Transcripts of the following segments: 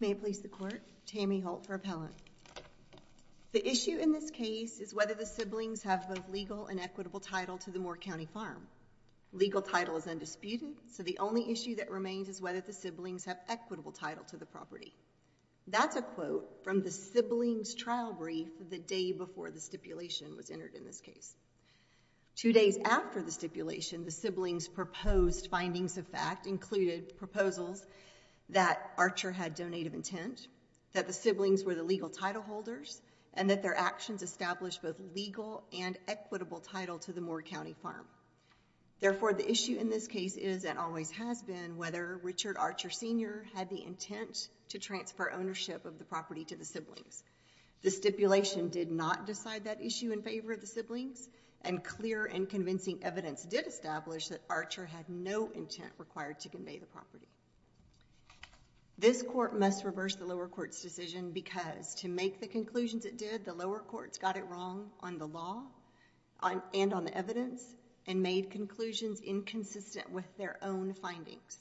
May it please the court, Tammy Holt for appellant. The issue in this case is whether the siblings have both legal and equitable title to the Moore County farm. Legal title is undisputed, so the only issue that remains is whether the siblings have equitable title to the property. That's a quote from the siblings' trial brief the day before the stipulation was entered in this case. Two days after the stipulation, the siblings' proposed findings of fact included proposals that Archer had donated intent, that the siblings were the legal title holders, and that their actions established both legal and equitable title to the Moore County farm. Therefore, the issue in this case is and always has been whether Richard Archer Sr. had the intent to transfer ownership of the property to the siblings. The stipulation did not decide that issue in favor of the siblings, and clear and convincing evidence did establish that Archer had no intent required to convey the property. This court must reverse the lower court's decision because to make the conclusions it did, the lower courts got it wrong on the law and on the evidence and made conclusions inconsistent with their own findings.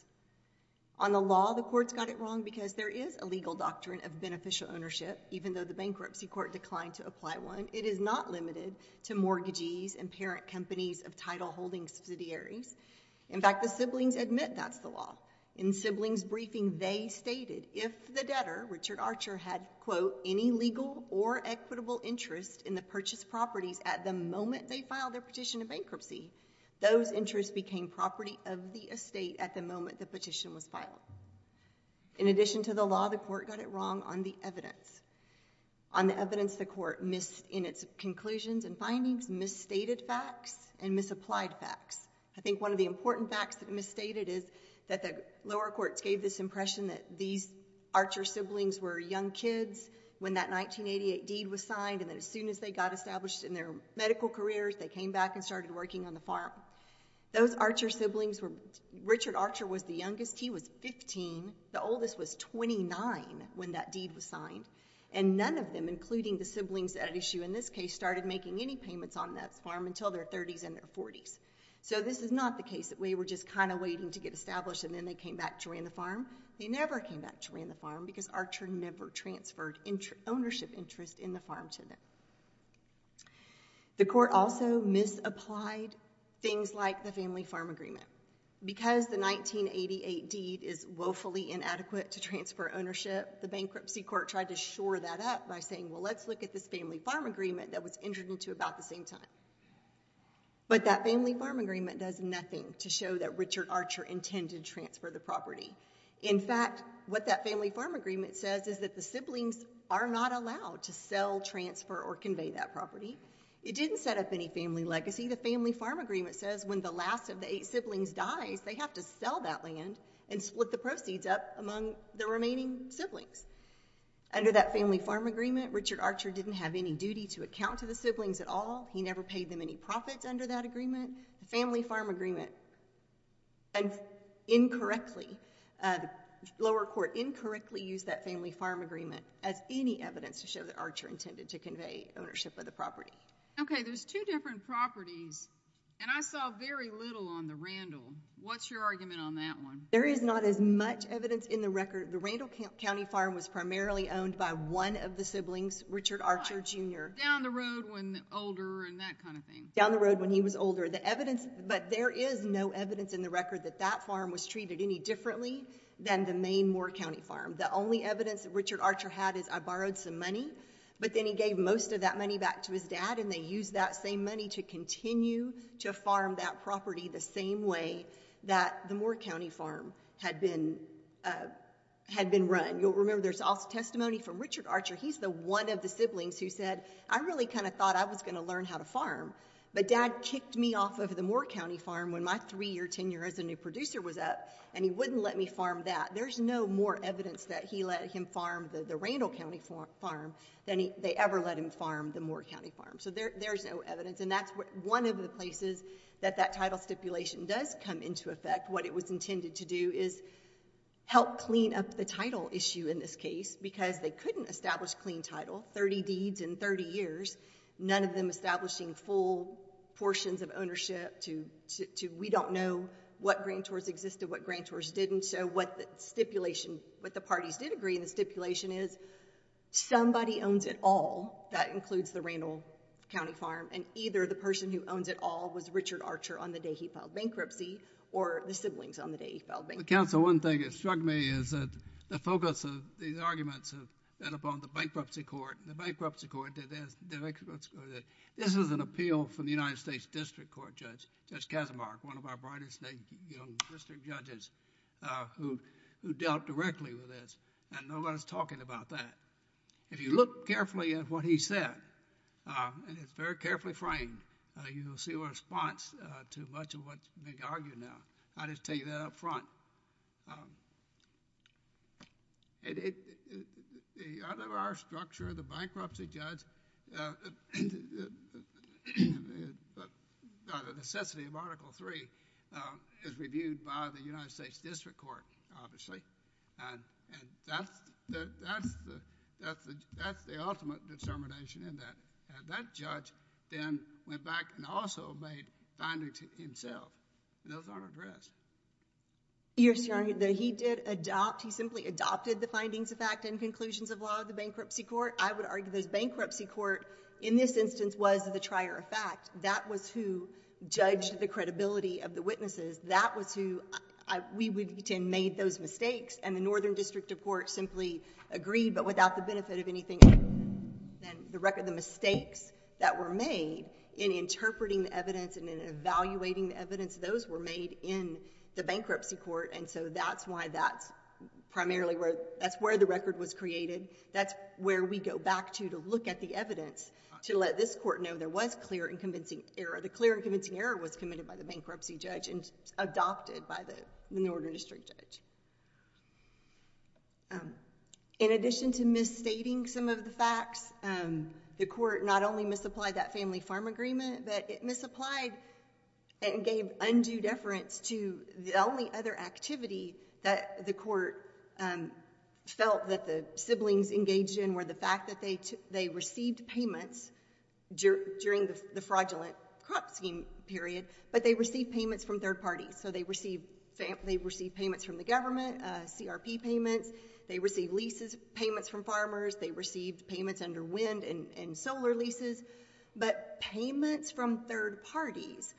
On the law, the courts got it wrong because there is a legal doctrine of beneficial ownership even though the bankruptcy court declined to apply one. It is not limited to mortgages and parent companies of title holding subsidiaries. In fact, the siblings admit that's the law. In siblings' briefing, they stated if the debtor, Richard Archer, had, quote, any legal or equitable interest in the purchased properties at the moment they filed their petition of bankruptcy, those interests became property of the estate at the moment the petition was filed. In addition to the law, the court got it wrong on the evidence. On the evidence, the court missed in its conclusions and findings, misstated facts and misapplied facts. I think one of the important facts that it misstated is that the lower courts gave this impression that these Archer siblings were young kids when that 1988 deed was signed and that as soon as they got established in their medical careers, they came back and started working on the farm. Those Archer siblings were... Richard Archer was the youngest. He was 15. The oldest was 29 when that deed was signed, and none of them, including the siblings at issue in this case, started making any payments on that farm until their 30s and their 40s. This is not the case that we were just kind of waiting to get established and then they came back to run the farm. They never came back to run the farm because Archer never transferred ownership interest in the farm to them. The court also misapplied things like the family farm agreement. Because the 1988 deed is woefully inadequate to transfer ownership, the bankruptcy court tried to shore that up by saying, well, let's look at this family farm agreement that was entered into about the same time. But that family farm agreement does nothing to show that Richard Archer intended to transfer the property. In fact, what that family farm agreement says is that the siblings are not allowed to sell, transfer or convey that property. It didn't set up any family legacy. The family farm agreement says when the last of the eight siblings dies, they have to sell that land and split the proceeds up among the remaining siblings. Under that family farm agreement, Richard Archer didn't have any duty to account to the siblings at all. He never paid them any profits under that agreement. Family farm agreement incorrectly, the lower court incorrectly used that family farm agreement as any evidence to show that Archer intended to convey ownership of the property. Okay, there's two different properties and I saw very little on the Randall. What's your argument on that one? There is not as much evidence in the record. The Randall County farm was primarily owned by one of the siblings, Richard Archer Jr. Down the road when older and that kind of thing. Down the road when he was older. The evidence, but there is no evidence in the record that that farm was treated any differently than the main Moore County farm. The only evidence Richard Archer had is I borrowed some money, but then he gave most of that money back to his dad and they used that same money to continue to farm that property the same way that the Moore County farm had been run. You'll remember there's also testimony from Richard Archer. He's the one of the siblings who said, I really kind of thought I was going to learn how to farm, but dad kicked me off of the Moore County farm when my three-year tenure as a new producer was up and he wouldn't let me farm that. There's no more evidence that he let him farm the Randall County farm than they ever let him farm the Moore County farm. There's no evidence. That's one of the places that that title stipulation does come into effect. What it was intended to do is help clean up the title issue in this case because they couldn't establish clean title, 30 deeds in 30 years, none of them establishing full portions of ownership. We don't know what grantors existed, what grantors didn't, so what the parties did agree in the stipulation is somebody owns it all, that includes the Randall County farm, and either the person who owns it all was Richard Archer on the day he filed bankruptcy or the siblings on the day he filed bankruptcy. The counsel, one thing that struck me is that the focus of these arguments have been upon the Bankruptcy Court. The Bankruptcy Court, this is an appeal from the United States District Court Judge, Judge Archer. Nobody's talking about that. If you look carefully at what he said, and it's very carefully framed, you'll see a response to much of what's being argued now. I'll just tell you that up front. The other structure, the Bankruptcy Judge, the necessity of Article III is reviewed by the United States District Court, obviously. That's the ultimate determination in that. That judge then went back and also made findings himself, and those aren't addressed. Your Honor, he did adopt, he simply adopted the findings of fact and conclusions of law of the Bankruptcy Court. I would argue this Bankruptcy Court, in this instance, was the trier of fact. That was who judged the credibility of the witnesses. That was who... we would have made those mistakes, and the Northern District of Court simply agreed, but without the benefit of anything other than the record, the mistakes that were made in interpreting the evidence and in evaluating the evidence. Those were made in the Bankruptcy Court, and so that's why that's primarily where... that's where the record was created. That's where we go back to, to look at the evidence, to let this court know there was clear and convincing error. The clear and convincing error was committed by the bankruptcy judge and adopted by the Northern District judge. In addition to misstating some of the facts, the court not only misapplied that family farm agreement, but it misapplied and gave undue deference to the only other activity that the court felt that the siblings engaged in were the fact that they received payments during the fraudulent crop scheme period, but they received payments from third parties. They received payments from the government, CRP payments. They received leases, payments from farmers. They received payments under wind and solar leases, but payments from third parties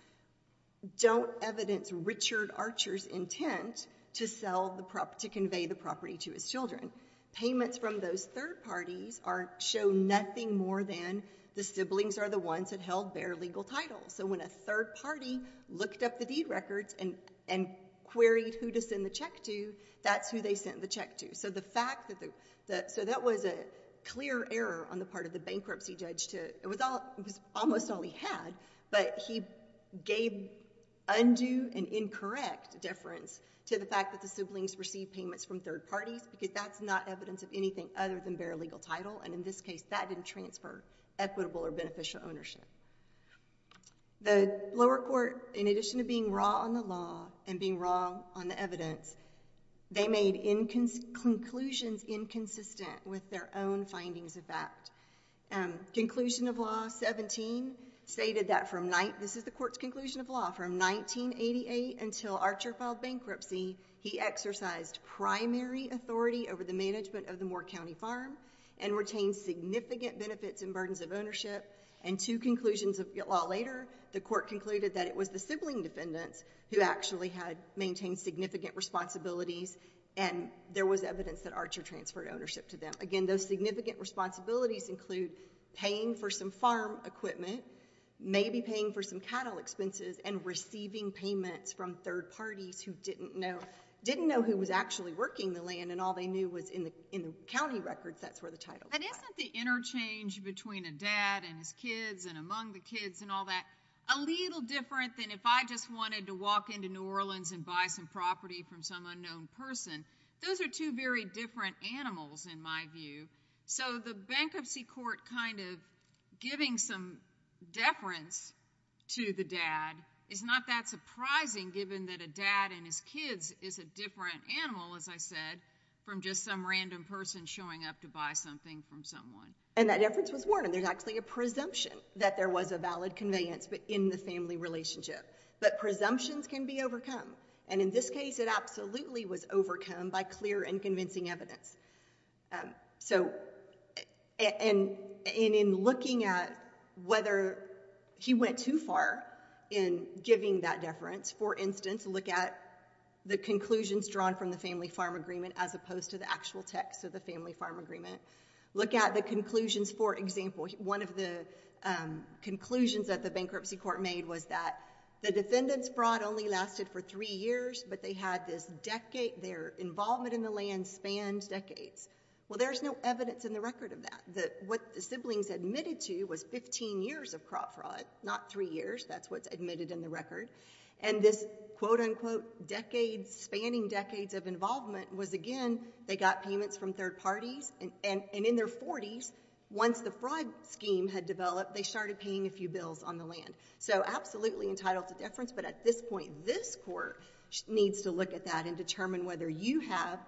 don't evidence Richard Archer's intent to sell the... to convey the property to his children. Payments from those third parties show nothing more than the siblings are the ones that held their legal titles. So when a third party looked up the deed records and queried who to send the check to, that's who they sent the check to. So that was a clear error on the part of the bankruptcy judge to... it was almost all he had, but he gave undue and incorrect deference to the fact that the siblings received payments from third parties because that's not evidence of anything other than their legal title, and in this case, that didn't transfer equitable or beneficial ownership. The lower court, in addition to being raw on the law and being raw on the evidence, they made conclusions inconsistent with their own findings of fact. Conclusion of Law 17 stated that from... this is the court's conclusion of law. From 1988 until Archer filed bankruptcy, he exercised primary authority over the management of the Moore County Farm and retained significant benefits and burdens of ownership, and two conclusions of law later, the court concluded that it was the sibling defendants who actually had maintained significant responsibilities and there was evidence that Archer transferred ownership to them. Again, those significant responsibilities include paying for some farm equipment, maybe paying for some cattle expenses, and receiving payments from third parties who didn't know who was actually working the land and all they knew was in the county records, that's where the title was. Isn't the interchange between a dad and his kids and among the kids and all that a little different than if I just wanted to walk into New Orleans and buy some property from some unknown person? Those are two very different animals, in my view, so the bankruptcy court kind of giving some deference to the dad is not that surprising given that a dad and his kids is a different animal, as I said, from just some random person showing up to buy something from someone. That deference was warranted. There's actually a presumption that there was a valid conveyance in the family relationship, but presumptions can be overcome. In this case, it absolutely was overcome by clear and convincing evidence. In looking at whether he went too far in giving that deference, for instance, look at the conclusions drawn from the family farm agreement as opposed to the actual text of the family farm agreement. Look at the conclusions. For example, one of the conclusions that the bankruptcy court made was that the defendant's fraud only lasted for three years, but their involvement in the land spanned decades. Well, there's no evidence in the record of that. What the siblings admitted to was 15 years of crop fraud, not three years. That's what's admitted in the record. This, quote, unquote, decades, spanning decades of involvement was, again, they got payments from third parties, and in their 40s, once the fraud scheme had developed, they started paying a few bills on the land. Absolutely entitled to deference, but at this point, this court needs to look at that and determine whether you have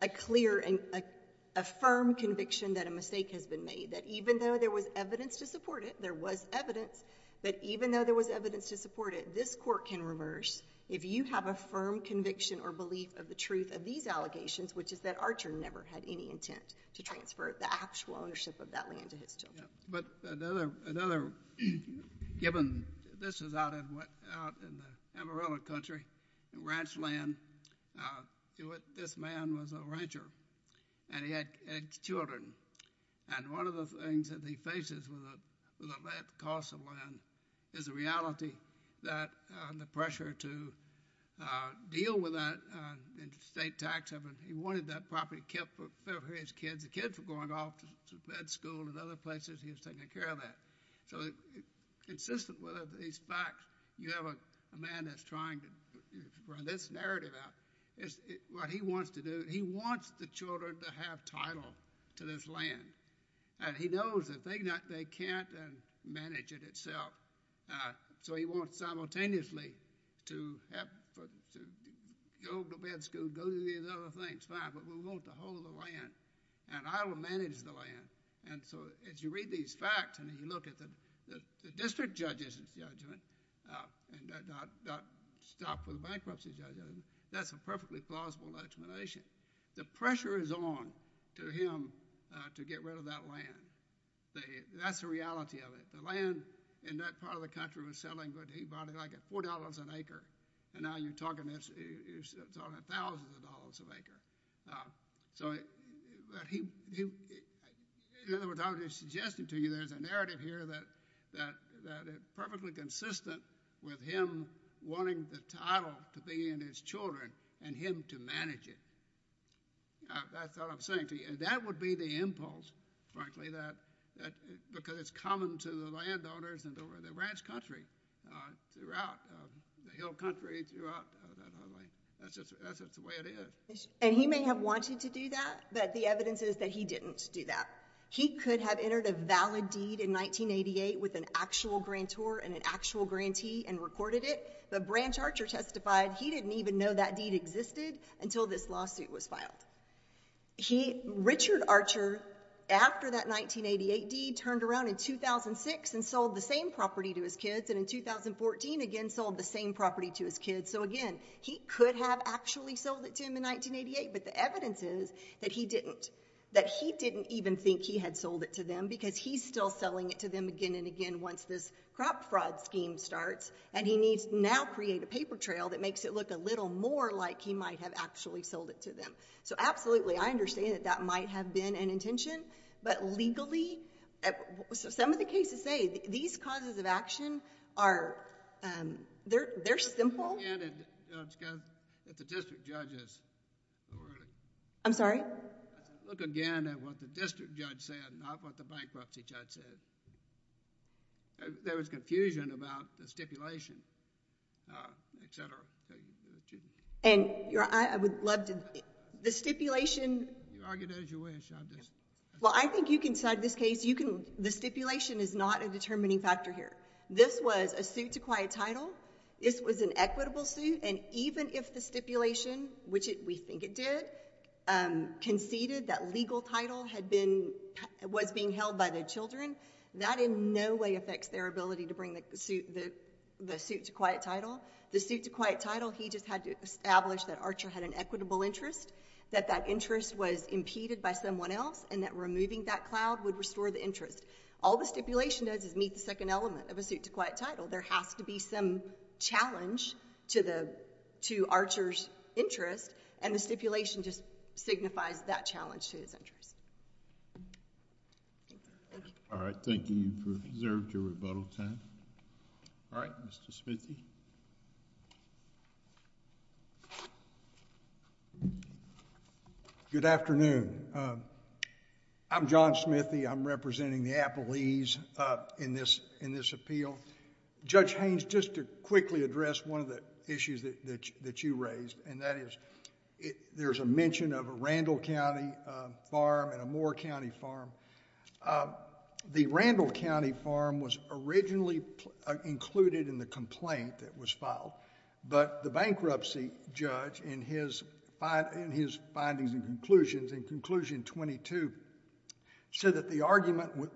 a firm conviction that a mistake has been made, that even though there was evidence to support it, there was evidence, but even though there was evidence to support it, this court can reverse if you have a firm conviction or belief of the truth of these allegations, which is that Archer never had any intent to transfer the actual ownership of that land to his children. Yeah, but another, given this is out in the Amarillo country, ranch land, this man was a rancher, and he had children, and one of the things that he faces with the cost of land is the reality that the pressure to deal with that state tax haven, he wanted that property kept for his kids. Because the kids were going off to med school and other places, he was taking care of that. So, consistent with these facts, you have a man that's trying to run this narrative out. What he wants to do, he wants the children to have title to this land, and he knows that they can't manage it itself, so he wants simultaneously to go to med school, go do these other things. That's fine, but we want the whole of the land, and I will manage the land. And so, as you read these facts and you look at the district judge's judgment, and not stop with the bankruptcy judgment, that's a perfectly plausible explanation. The pressure is on to him to get rid of that land. That's the reality of it. The land in that part of the country was selling good. He bought it at $4 an acre, and now you're talking thousands of dollars an acre. So, in other words, I was just suggesting to you there's a narrative here that is perfectly consistent with him wanting the title to be in his children, and him to manage it. That's what I'm saying to you. That would be the impulse, frankly, because it's common to the landowners and over the ranch country, throughout the hill country, throughout that whole thing. That's just the way it is. And he may have wanted to do that, but the evidence is that he didn't do that. He could have entered a valid deed in 1988 with an actual grantor and an actual grantee and recorded it, but Branch Archer testified he didn't even know that deed existed until this lawsuit was filed. Richard Archer, after that 1988 deed, turned around in 2006 and sold the same property to his kids, and in 2014, again, sold the same property to his kids. So, again, he could have actually sold it to him in 1988, but the evidence is that he didn't. That he didn't even think he had sold it to them because he's still selling it to them again and again once this crop fraud scheme starts, and he needs to now create a paper trail that makes it look a little more like he might have actually sold it to them. So, absolutely, I understand that that might have been an intention, but legally, some of the cases say these causes of action are... they're simple. If the district judge is... I'm sorry? Look again at what the district judge said, not what the bankruptcy judge said. There was confusion about the stipulation, et cetera. I would love to... the stipulation... You argue it as you wish. Well, I think you can decide this case. The stipulation is not a determining factor here. This was a suit to quiet title. This was an equitable suit, and even if the stipulation, which we think it did, conceded that legal title was being held by the children, that in no way affects their ability to bring the suit to quiet title. The suit to quiet title, he just had to establish that Archer had an equitable interest, that that interest was impeded by someone else, and that removing that cloud would restore the interest. All the stipulation does is meet the second element of a suit to quiet title. There has to be some challenge to Archer's interest, and the stipulation just signifies that challenge to his interest. Thank you. All right. Thank you. You've observed your rebuttal time. All right. Mr. Smithy? Good afternoon. I'm John Smithy. I'm representing the Appalese in this appeal. Judge Haynes, just to quickly address one of the issues that you raised, and that is there's a mention of a Randall County farm and a Moore County farm. The Randall County farm was originally included in the complaint that was filed, but the bankruptcy judge in his findings and conclusions in conclusion 22 said that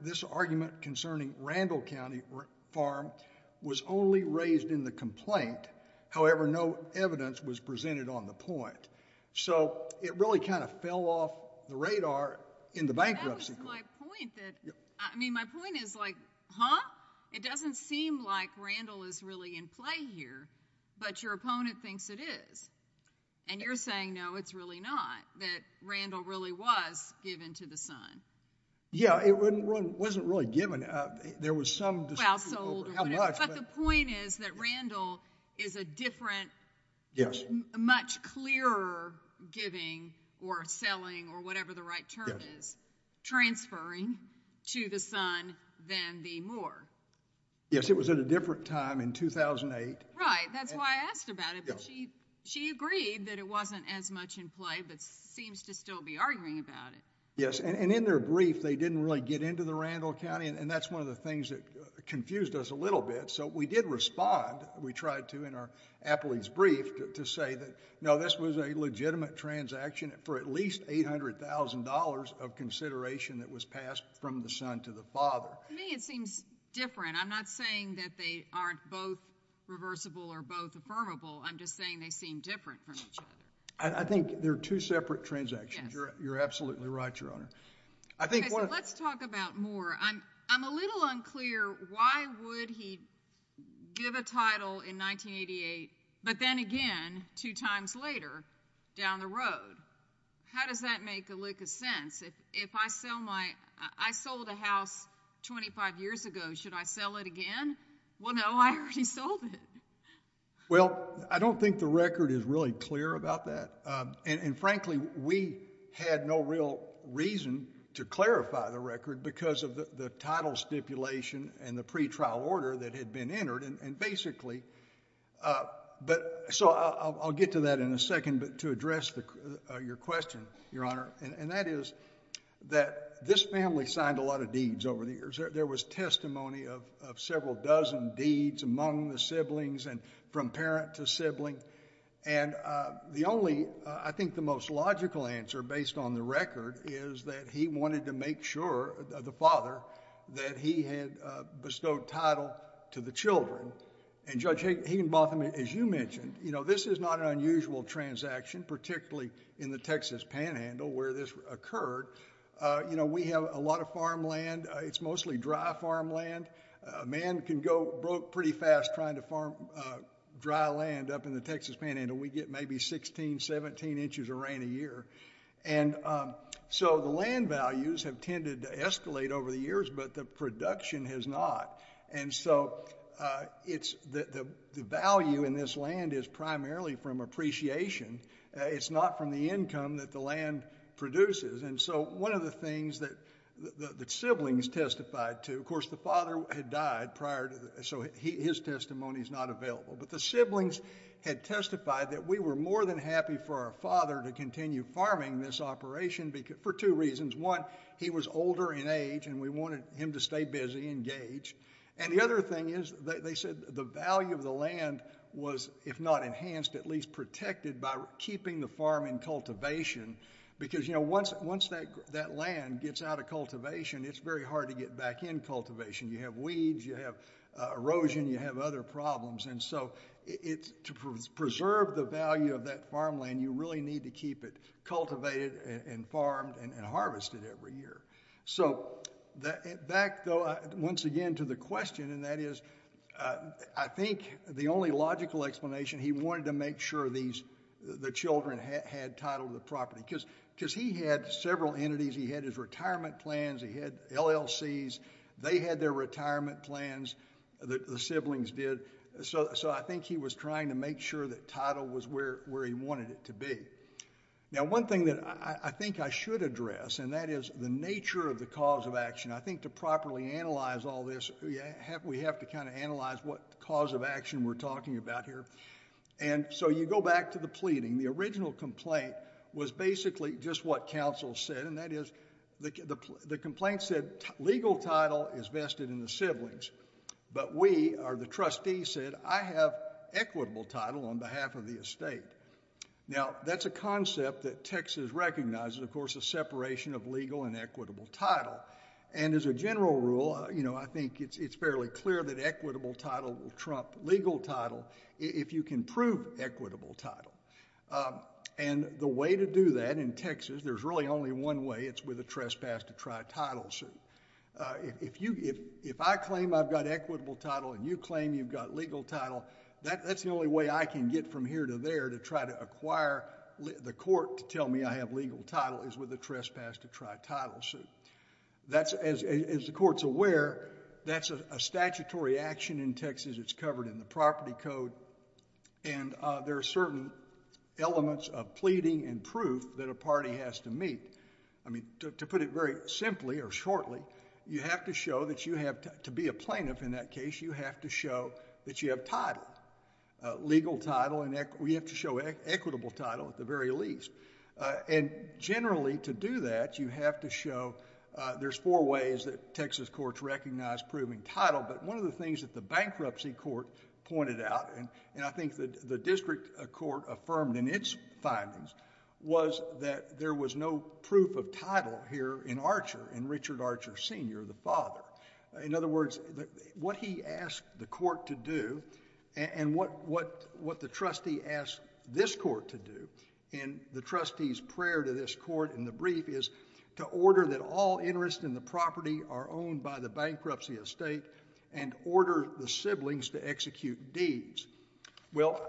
this argument concerning Randall County farm was only raised in the complaint, however, no evidence was presented on the point. So it really kind of fell off the radar in the bankruptcy court. That was my point. I mean, my point is like, huh? It doesn't seem like Randall is really in play here, but your opponent thinks it is. And you're saying, no, it's really not, that Randall really was given to the son. Yeah, it wasn't really given. There was some dispute over how much. But the point is that Randall is a different, much clearer giving or selling or whatever the right term is, transferring to the son than the Moore. Yes, it was at a different time in 2008. Right, that's why I asked about it. She agreed that it wasn't as much in play, but seems to still be arguing about it. Yes, and in their brief, they didn't really get into the Randall County, and that's one of the things that confused us a little bit. So we did respond. We tried to in our appellee's brief to say that, no, this was a legitimate transaction for at least $800,000 of consideration that was passed from the son to the father. To me, it seems different. I'm not saying that they aren't both reversible or both affirmable. I'm just saying they seem different from each other. I think they're two separate transactions. You're absolutely right, Your Honor. Okay, so let's talk about Moore. I'm a little unclear why would he give a title in 1988, but then again two times later down the road? How does that make a lick of sense? If I sold a house 25 years ago, should I sell it again? Well, no, I already sold it. Well, I don't think the record is really clear about that. And frankly, we had no real reason to clarify the record because of the title stipulation and the pretrial order that had been entered. So I'll get to that in a second, but to address your question, Your Honor, and that is that this family signed a lot of deeds over the years. There was testimony of several dozen deeds among the siblings and from parent to sibling. And the only, I think the most logical answer based on the record is that he wanted to make sure, the father, that he had bestowed title to the children. And Judge Higginbotham, as you mentioned, this is not an unusual transaction, particularly in the Texas panhandle where this occurred. We have a lot of farmland. It's mostly dry farmland. A man can go pretty fast trying to farm dry land up in the Texas panhandle. We get maybe 16, 17 inches of rain a year. And so the land values have tended to escalate over the years, but the production has not. And so the value in this land is primarily from appreciation. It's not from the income that the land produces. And so one of the things that siblings testified to, of course the father had died prior so his testimony is not available, but the siblings had testified that we were more than happy for our father to continue farming this operation for two reasons. One, he was older in age and we wanted him to stay busy, engage. And the other thing is they said the value of the land was, if not enhanced, at least protected by keeping the farm in cultivation because, you know, once that land gets out of cultivation, it's very hard to get back in cultivation. You have weeds, you have erosion, you have other problems. And so to preserve the value of that farmland, you really need to keep it cultivated and farmed and harvested every year. So back, though, once again to the question, and that is I think the only logical explanation, he wanted to make sure the children had title to the property because he had several entities, he had his retirement plans, he had LLCs, they had their retirement plans, the siblings did. So I think he was trying to make sure that title was where he wanted it to be. Now one thing that I think I should address, and that is the nature of the cause of action, I think to properly analyze all this we have to kind of analyze what cause of action we're talking about here. And so you go back to the pleading. The original complaint was basically just what counsel said, and that is the complaint said legal title is vested in the siblings, but we, or the trustee, said I have equitable title on behalf of the estate. Now that's a concept that Texas recognizes, of course, the separation of legal and equitable title. And as a general rule, you know, I think it's fairly clear that equitable title will trump legal title if you can prove equitable title. And the way to do that in Texas, there's really only one way, it's with a trespass to try title suit. If I claim I've got equitable title and you claim you've got legal title, that's the only way I can get from here to there to try to acquire the court to tell me I have legal title is with a trespass to try title suit. That's, as the court's aware, that's a statutory action in Texas. It's covered in the property code. And there are certain elements of pleading and proof that a party has to meet. I mean, to put it very simply or shortly, you have to show that you have, to be a plaintiff in that case, you have to show that you have title, legal title, and you have to show equitable title at the very least. And generally, to do that, you have to show, there's four ways that Texas courts recognize proving title, but one of the things that the bankruptcy court pointed out, and I think the district court affirmed in its findings, was that there was no proof of title here in Archer, in Richard Archer Sr., the father. In other words, what he asked the court to do, and what the trustee asked this court to do, in the trustee's prayer to this court in the brief, is to order that all interest in the property are owned by the bankruptcy estate and order the siblings to execute deeds. Well,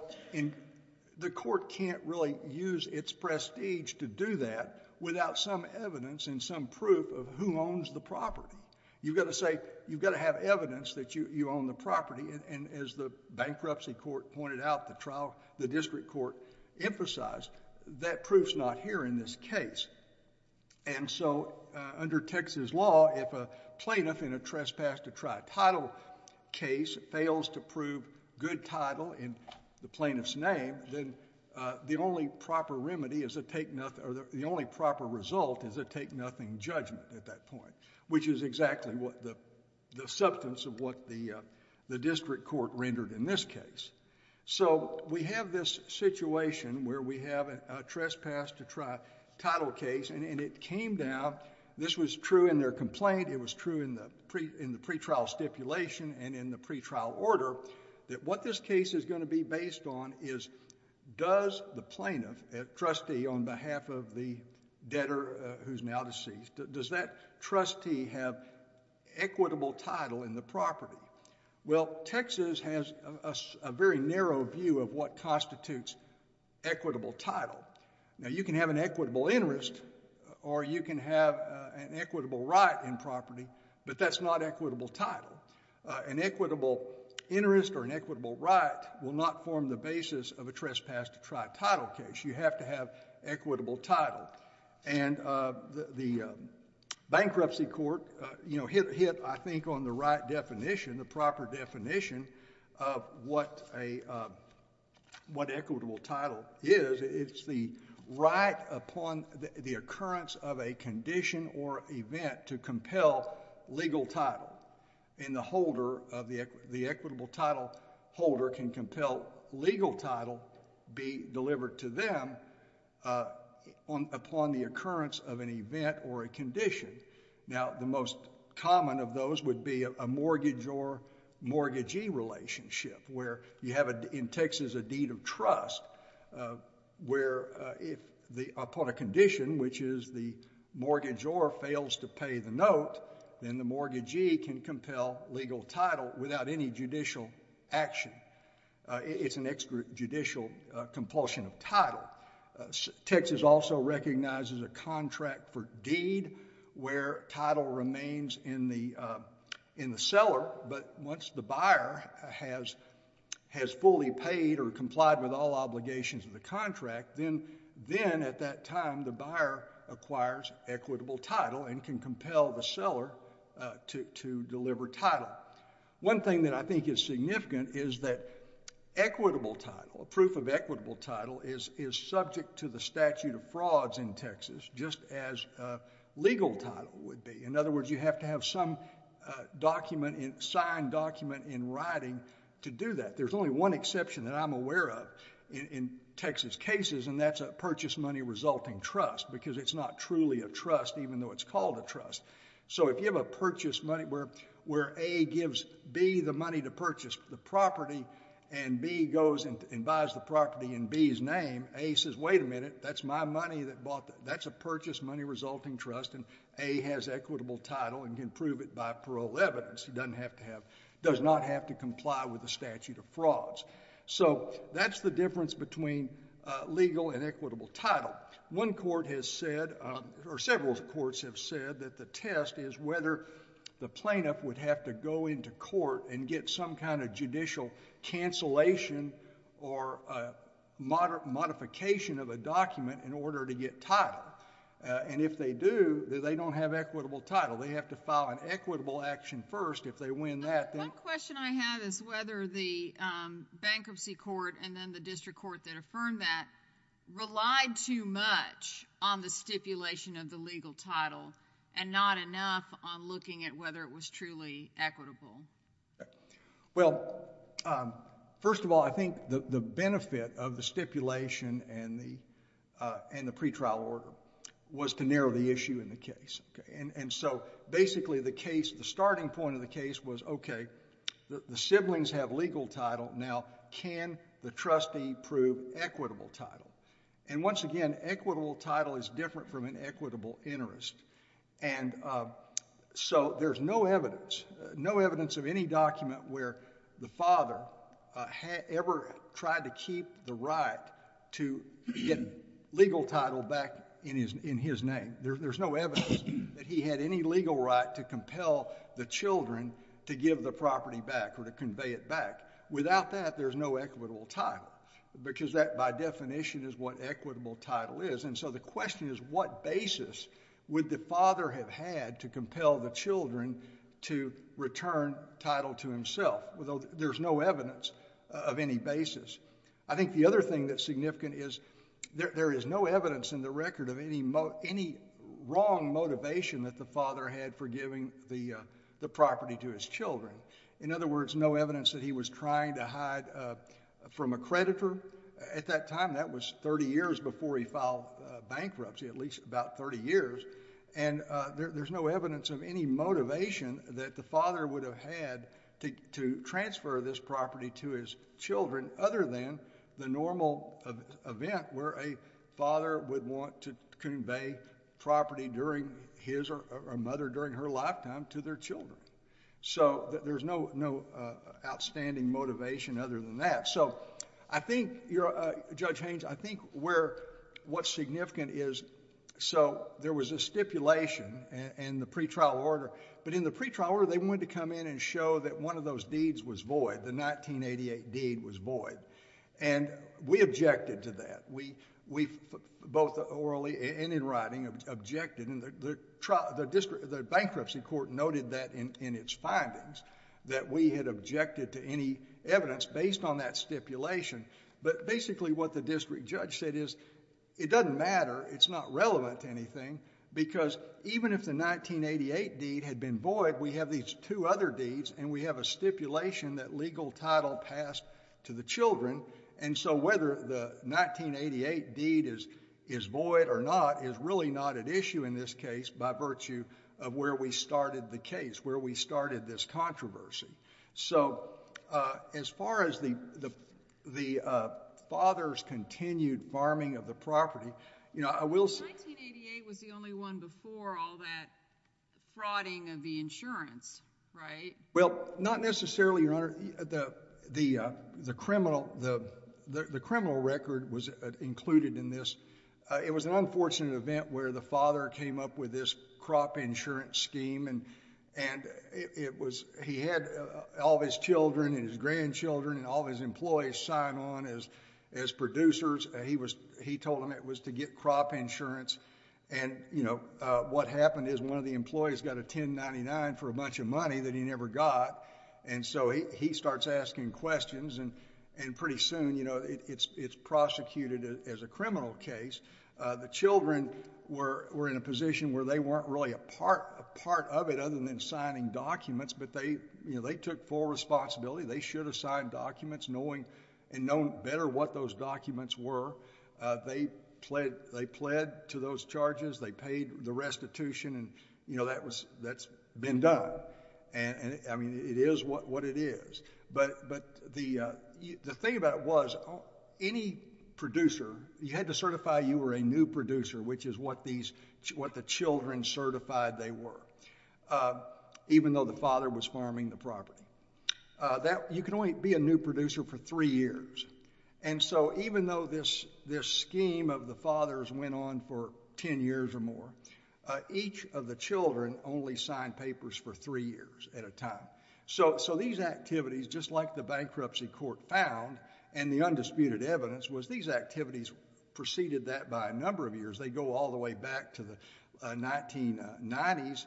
the court can't really use its prestige to do that without some evidence and some proof of who owns the property. You've got to say, you've got to have evidence that you own the property, and as the bankruptcy court pointed out, the district court emphasized, that proof's not here in this case. And so, under Texas law, if a plaintiff in a trespass to try title case fails to prove good title in the plaintiff's name, then the only proper result is a take-nothing judgment at that point, which is exactly the substance of what the district court rendered in this case. So, we have this situation where we have a trespass to try title case, and it came down, this was true in their complaint, it was true in the pretrial stipulation and in the pretrial order, that what this case is going to be based on is, does the plaintiff, a trustee on behalf of the debtor who's now deceased, does that trustee have equitable title in the property? Well, Texas has a very narrow view of what constitutes equitable title. Now, you can have an equitable interest or you can have an equitable right in property, but that's not equitable title. An equitable interest or an equitable right will not form the basis of a trespass to try title case. You have to have equitable title. And the bankruptcy court hit, I think, on the right definition, the proper definition of what equitable title is. It's the right upon the occurrence of a condition or event to compel legal title, and the equitable title holder can compel legal title be delivered to them upon the occurrence of an event or a condition. Now, the most common of those would be a mortgage or mortgagee relationship, where you have in Texas a deed of trust, where upon a condition, which is the mortgage or fails to pay the note, then the mortgagee can compel legal title without any judicial action. It's an extrajudicial compulsion of title. Texas also recognizes a contract for deed where title remains in the seller, but once the buyer has fully paid or complied with all obligations of the contract, then at that time the buyer acquires equitable title and can compel the seller to deliver title. Now, one thing that I think is significant is that equitable title, proof of equitable title is subject to the statute of frauds in Texas, just as legal title would be. In other words, you have to have some signed document in writing to do that. There's only one exception that I'm aware of in Texas cases, and that's a purchase money resulting trust, because it's not truly a trust even though it's called a trust. So if you have a purchase money where A gives B the money to purchase the property and B goes and buys the property in B's name, A says, wait a minute, that's my money that bought that. That's a purchase money resulting trust, and A has equitable title and can prove it by parole evidence. He does not have to comply with the statute of frauds. So that's the difference between legal and equitable title. Now, one court has said, or several courts have said, that the test is whether the plaintiff would have to go into court and get some kind of judicial cancellation or modification of a document in order to get title. And if they do, they don't have equitable title. They have to file an equitable action first. If they win that, then... One question I have is whether the bankruptcy court and then the district court that affirmed that relied too much on the stipulation of the legal title and not enough on looking at whether it was truly equitable. Well, first of all, I think the benefit of the stipulation and the pretrial order was to narrow the issue in the case. And so basically the case, the starting point of the case was, okay, the siblings have legal title. Now, can the trustee prove equitable title? And once again, equitable title is different from an equitable interest. And so there's no evidence, no evidence of any document where the father ever tried to keep the right to get legal title back in his name. There's no evidence that he had any legal right to compel the children to give the property back or to convey it back. Without that, there's no equitable title because that, by definition, is what equitable title is. And so the question is, what basis would the father have had to compel the children to return title to himself? There's no evidence of any basis. I think the other thing that's significant is there is no evidence in the record of any wrong motivation that the father had for giving the property to his children. In other words, no evidence that he was trying to hide from a creditor. At that time, that was 30 years before he filed bankruptcy, at least about 30 years. And there's no evidence of any motivation that the father would have had to transfer this property to his children other than the normal event where a father would want to convey property to his or her mother during her lifetime to their children. So there's no outstanding motivation other than that. Judge Haynes, I think what's significant is there was a stipulation in the pretrial order. But in the pretrial order, they wanted to come in and show that one of those deeds was void, the 1988 deed was void. And we objected to that. We both orally and in writing objected. The bankruptcy court noted that in its findings that we had objected to any evidence based on that stipulation. But basically what the district judge said is it doesn't matter, it's not relevant to anything because even if the 1988 deed had been void, we have these two other deeds and we have a stipulation that legal title passed to the children. And so whether the 1988 deed is void or not is really not at issue in this case by virtue of where we started the case, where we started this controversy. So as far as the father's continued farming of the property, I will say... 1988 was the only one before all that frauding of the insurance, right? Well, not necessarily, Your Honor. The criminal record was included in this. It was an unfortunate event where the father came up with this crop insurance scheme and he had all of his children and his grandchildren and all of his employees sign on as producers. He told them it was to get crop insurance. And what happened is one of the employees got a 1099 for a bunch of money that he never got and so he starts asking questions and pretty soon it's prosecuted as a criminal case. The children were in a position where they weren't really a part of it other than signing documents, but they took full responsibility. They should have signed documents knowing better what those documents were. They pled to those charges. They paid the restitution. That's been done. It is what it is. But the thing about it was any producer, you had to certify you were a new producer, which is what the children certified they were, even though the father was farming the property. You can only be a new producer for three years. And so even though this scheme of the father's went on for 10 years or more, each of the children only signed papers for three years at a time. So these activities, just like the bankruptcy court found, and the undisputed evidence, was these activities preceded that by a number of years. They go all the way back to the 1990s.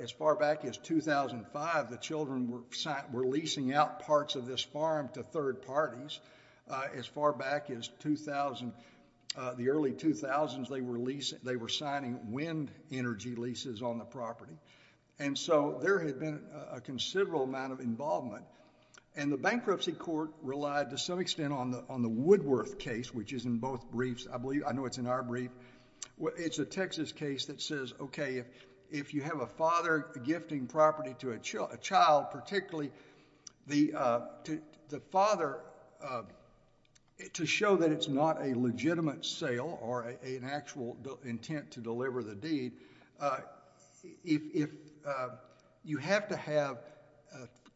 As far back as 2005, the children were leasing out parts of this farm to third parties. As far back as the early 2000s, they were signing wind energy leases on the property. And so there had been a considerable amount of involvement. And the bankruptcy court relied to some extent on the Woodworth case, which is in both briefs. I know it's in our brief. It's a Texas case that says, okay, if you have a father gifting property to a child, particularly the father, to show that it's not a legitimate sale or an actual intent to deliver the deed, you have to have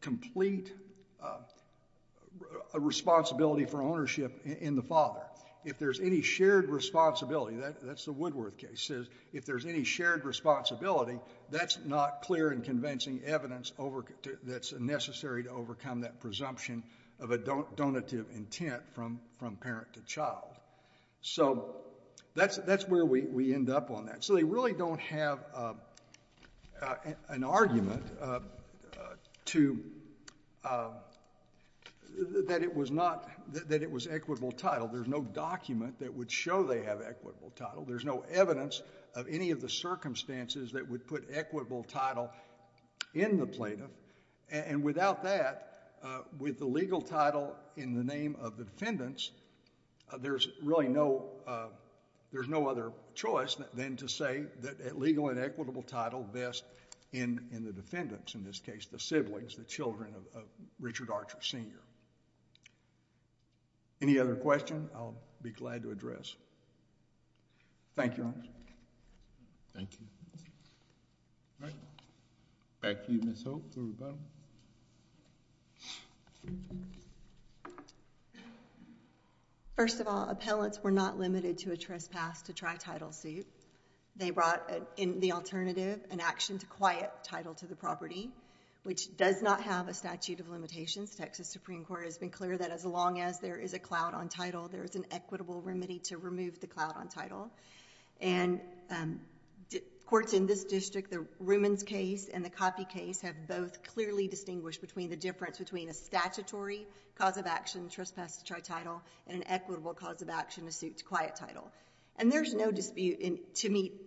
complete responsibility for ownership in the father. If there's any shared responsibility, that's the Woodworth case, if there's any shared responsibility, that's not clear and convincing evidence that's necessary to overcome that presumption of a donative intent from parent to child. So that's where we end up on that. So they really don't have an argument that it was equitable title. There's no document that would show they have equitable title. There's no evidence of any of the circumstances that would put equitable title in the plaintiff. And without that, with the legal title in the name of the defendants, there's really no, there's no other choice than to say that a legal and equitable title vests in the defendants, in this case the siblings, the children of Richard Archer Sr. Any other question? I'll be glad to address. Thank you, Your Honor. Thank you. All right. Back to you, Ms. Hope, for rebuttal. First of all, appellants were not limited to a trespass to tri-title suit. They brought in the alternative, an action to quiet title to the property, which does not have a statute of limitations. Texas Supreme Court has been clear that as long as there is a clout on title, there's an equitable remedy to remove the clout on title. And courts in this district, the Rumens case and the Coffey case have both clearly distinguished between the difference between a statutory cause of action, trespass to tri-title, and an equitable cause of action, a suit to quiet title. And there's no dispute to meet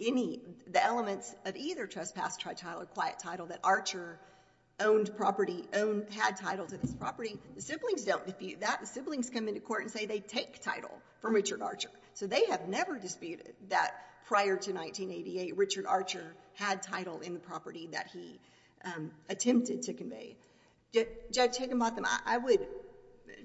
the elements of either trespass to tri-title or quiet title that Archer owned property, had title to this property. The siblings don't dispute that. The siblings come into court and say they take title from Richard Archer. So they have never disputed that prior to 1988, Richard Archer had title in the property that he attempted to convey. Judge Higginbotham, I would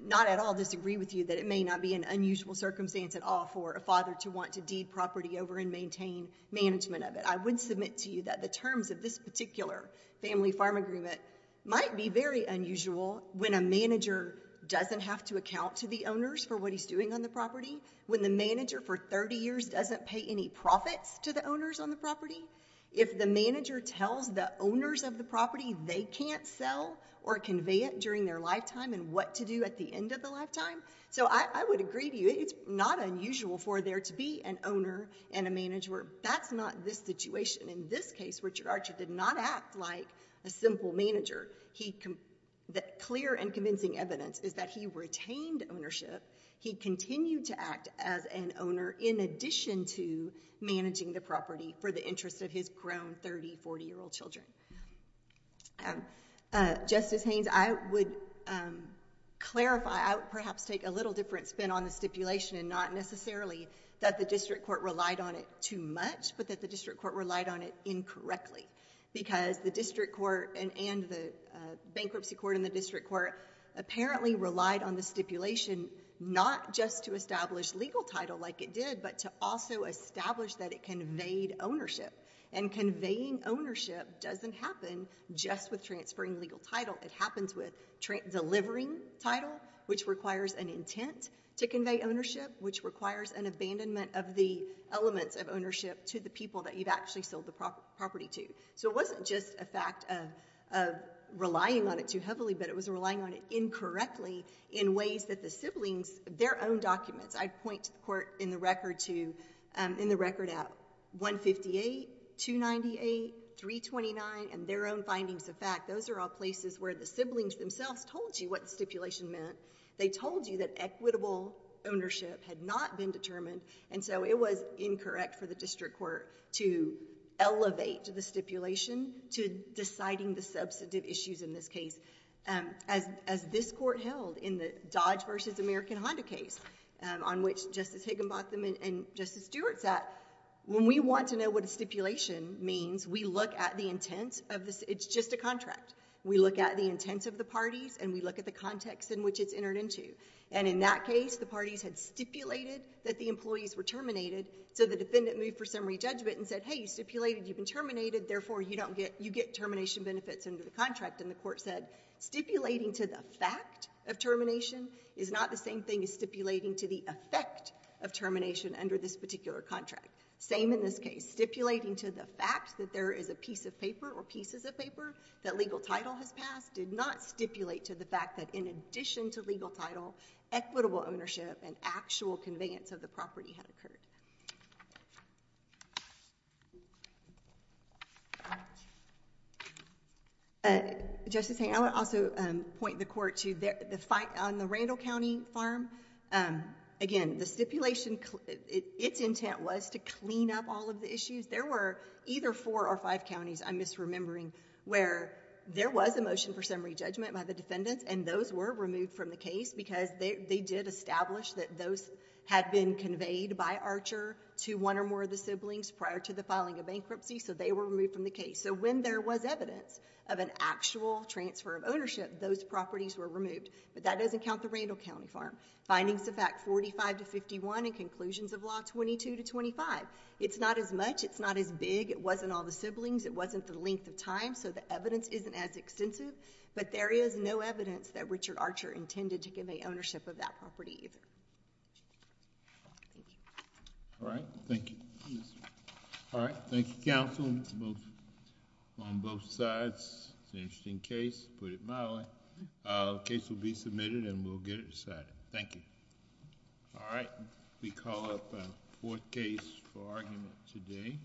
not at all disagree with you that it may not be an unusual circumstance at all for a father to want to deed property over and maintain management of it. I would submit to you that the terms of this particular family farm agreement might be very unusual when a manager doesn't have to account to the owners for what he's doing on the property, when the manager for 30 years doesn't pay any profits to the owners on the property. If the manager tells the owners of the property they can't sell or convey it during their lifetime and what to do at the end of the lifetime. So I would agree with you. It's not unusual for there to be an owner and a manager. That's not this situation. In this case, Richard Archer did not act like a simple manager. The clear and convincing evidence is that he retained ownership. He continued to act as an owner in addition to managing the property for the interest of his grown 30, 40-year-old children. Justice Haynes, I would clarify. I would perhaps take a little different spin on the stipulation and not necessarily that the district court relied on it too much but that the district court relied on it incorrectly because the district court and the bankruptcy court and the district court apparently relied on the stipulation not just to establish legal title like it did but to also establish that it conveyed ownership. And conveying ownership doesn't happen just with transferring legal title. It happens with delivering title, which requires an intent to convey ownership, which requires an abandonment of the elements of ownership to the people that you've actually sold the property to. So it wasn't just a fact of relying on it too heavily, but it was relying on it incorrectly in ways that the siblings, their own documents. I'd point to the court in the record at 158, 298, 329, and their own findings of fact. Those are all places where the siblings themselves told you what stipulation meant. They told you that equitable ownership had not been determined, and so it was incorrect for the district court to elevate the stipulation to deciding the substantive issues in this case. As this court held in the Dodge versus American Honda case, on which Justice Higginbotham and Justice Stewart sat, when we want to know what a stipulation means, we look at the intent of this. It's just a contract. We look at the intent of the parties, and we look at the context in which it's entered into. And in that case, the parties had stipulated that the employees were terminated, so the defendant moved for summary judgment and said, hey, you stipulated you've been terminated, therefore you get termination benefits under the contract. And the court said, stipulating to the fact of termination is not the same thing as stipulating to the effect of termination under this particular contract. Same in this case. Stipulating to the fact that there is a piece of paper or pieces of paper that legal title has passed did not stipulate to the fact that in addition to legal title, equitable ownership and actual conveyance of the property had occurred. Justice Haynes, I would also point the court to the fight on the Randall County farm. Again, the stipulation, its intent was to clean up all of the issues. There were either four or five counties, I'm misremembering, where there was a motion for summary judgment by the defendants, and those were removed from the case because they did establish that those had been conveyed by Archer to one or more of the siblings prior to the filing of bankruptcy, so they were removed from the case. So when there was evidence of an actual transfer of ownership, those properties were removed. But that doesn't count the Randall County farm. Findings of Act 45 to 51 and conclusions of Law 22 to 25. It's not as much. It's not as big. It wasn't all the siblings. It wasn't the length of time, so the evidence isn't as extensive. But there is no evidence that Richard Archer intended to convey ownership of that property either. All right, thank you. All right, thank you, counsel, on both sides. It's an interesting case, to put it mildly. The case will be submitted, and we'll get it decided. Thank you. All right, we call up our fourth case for argument today.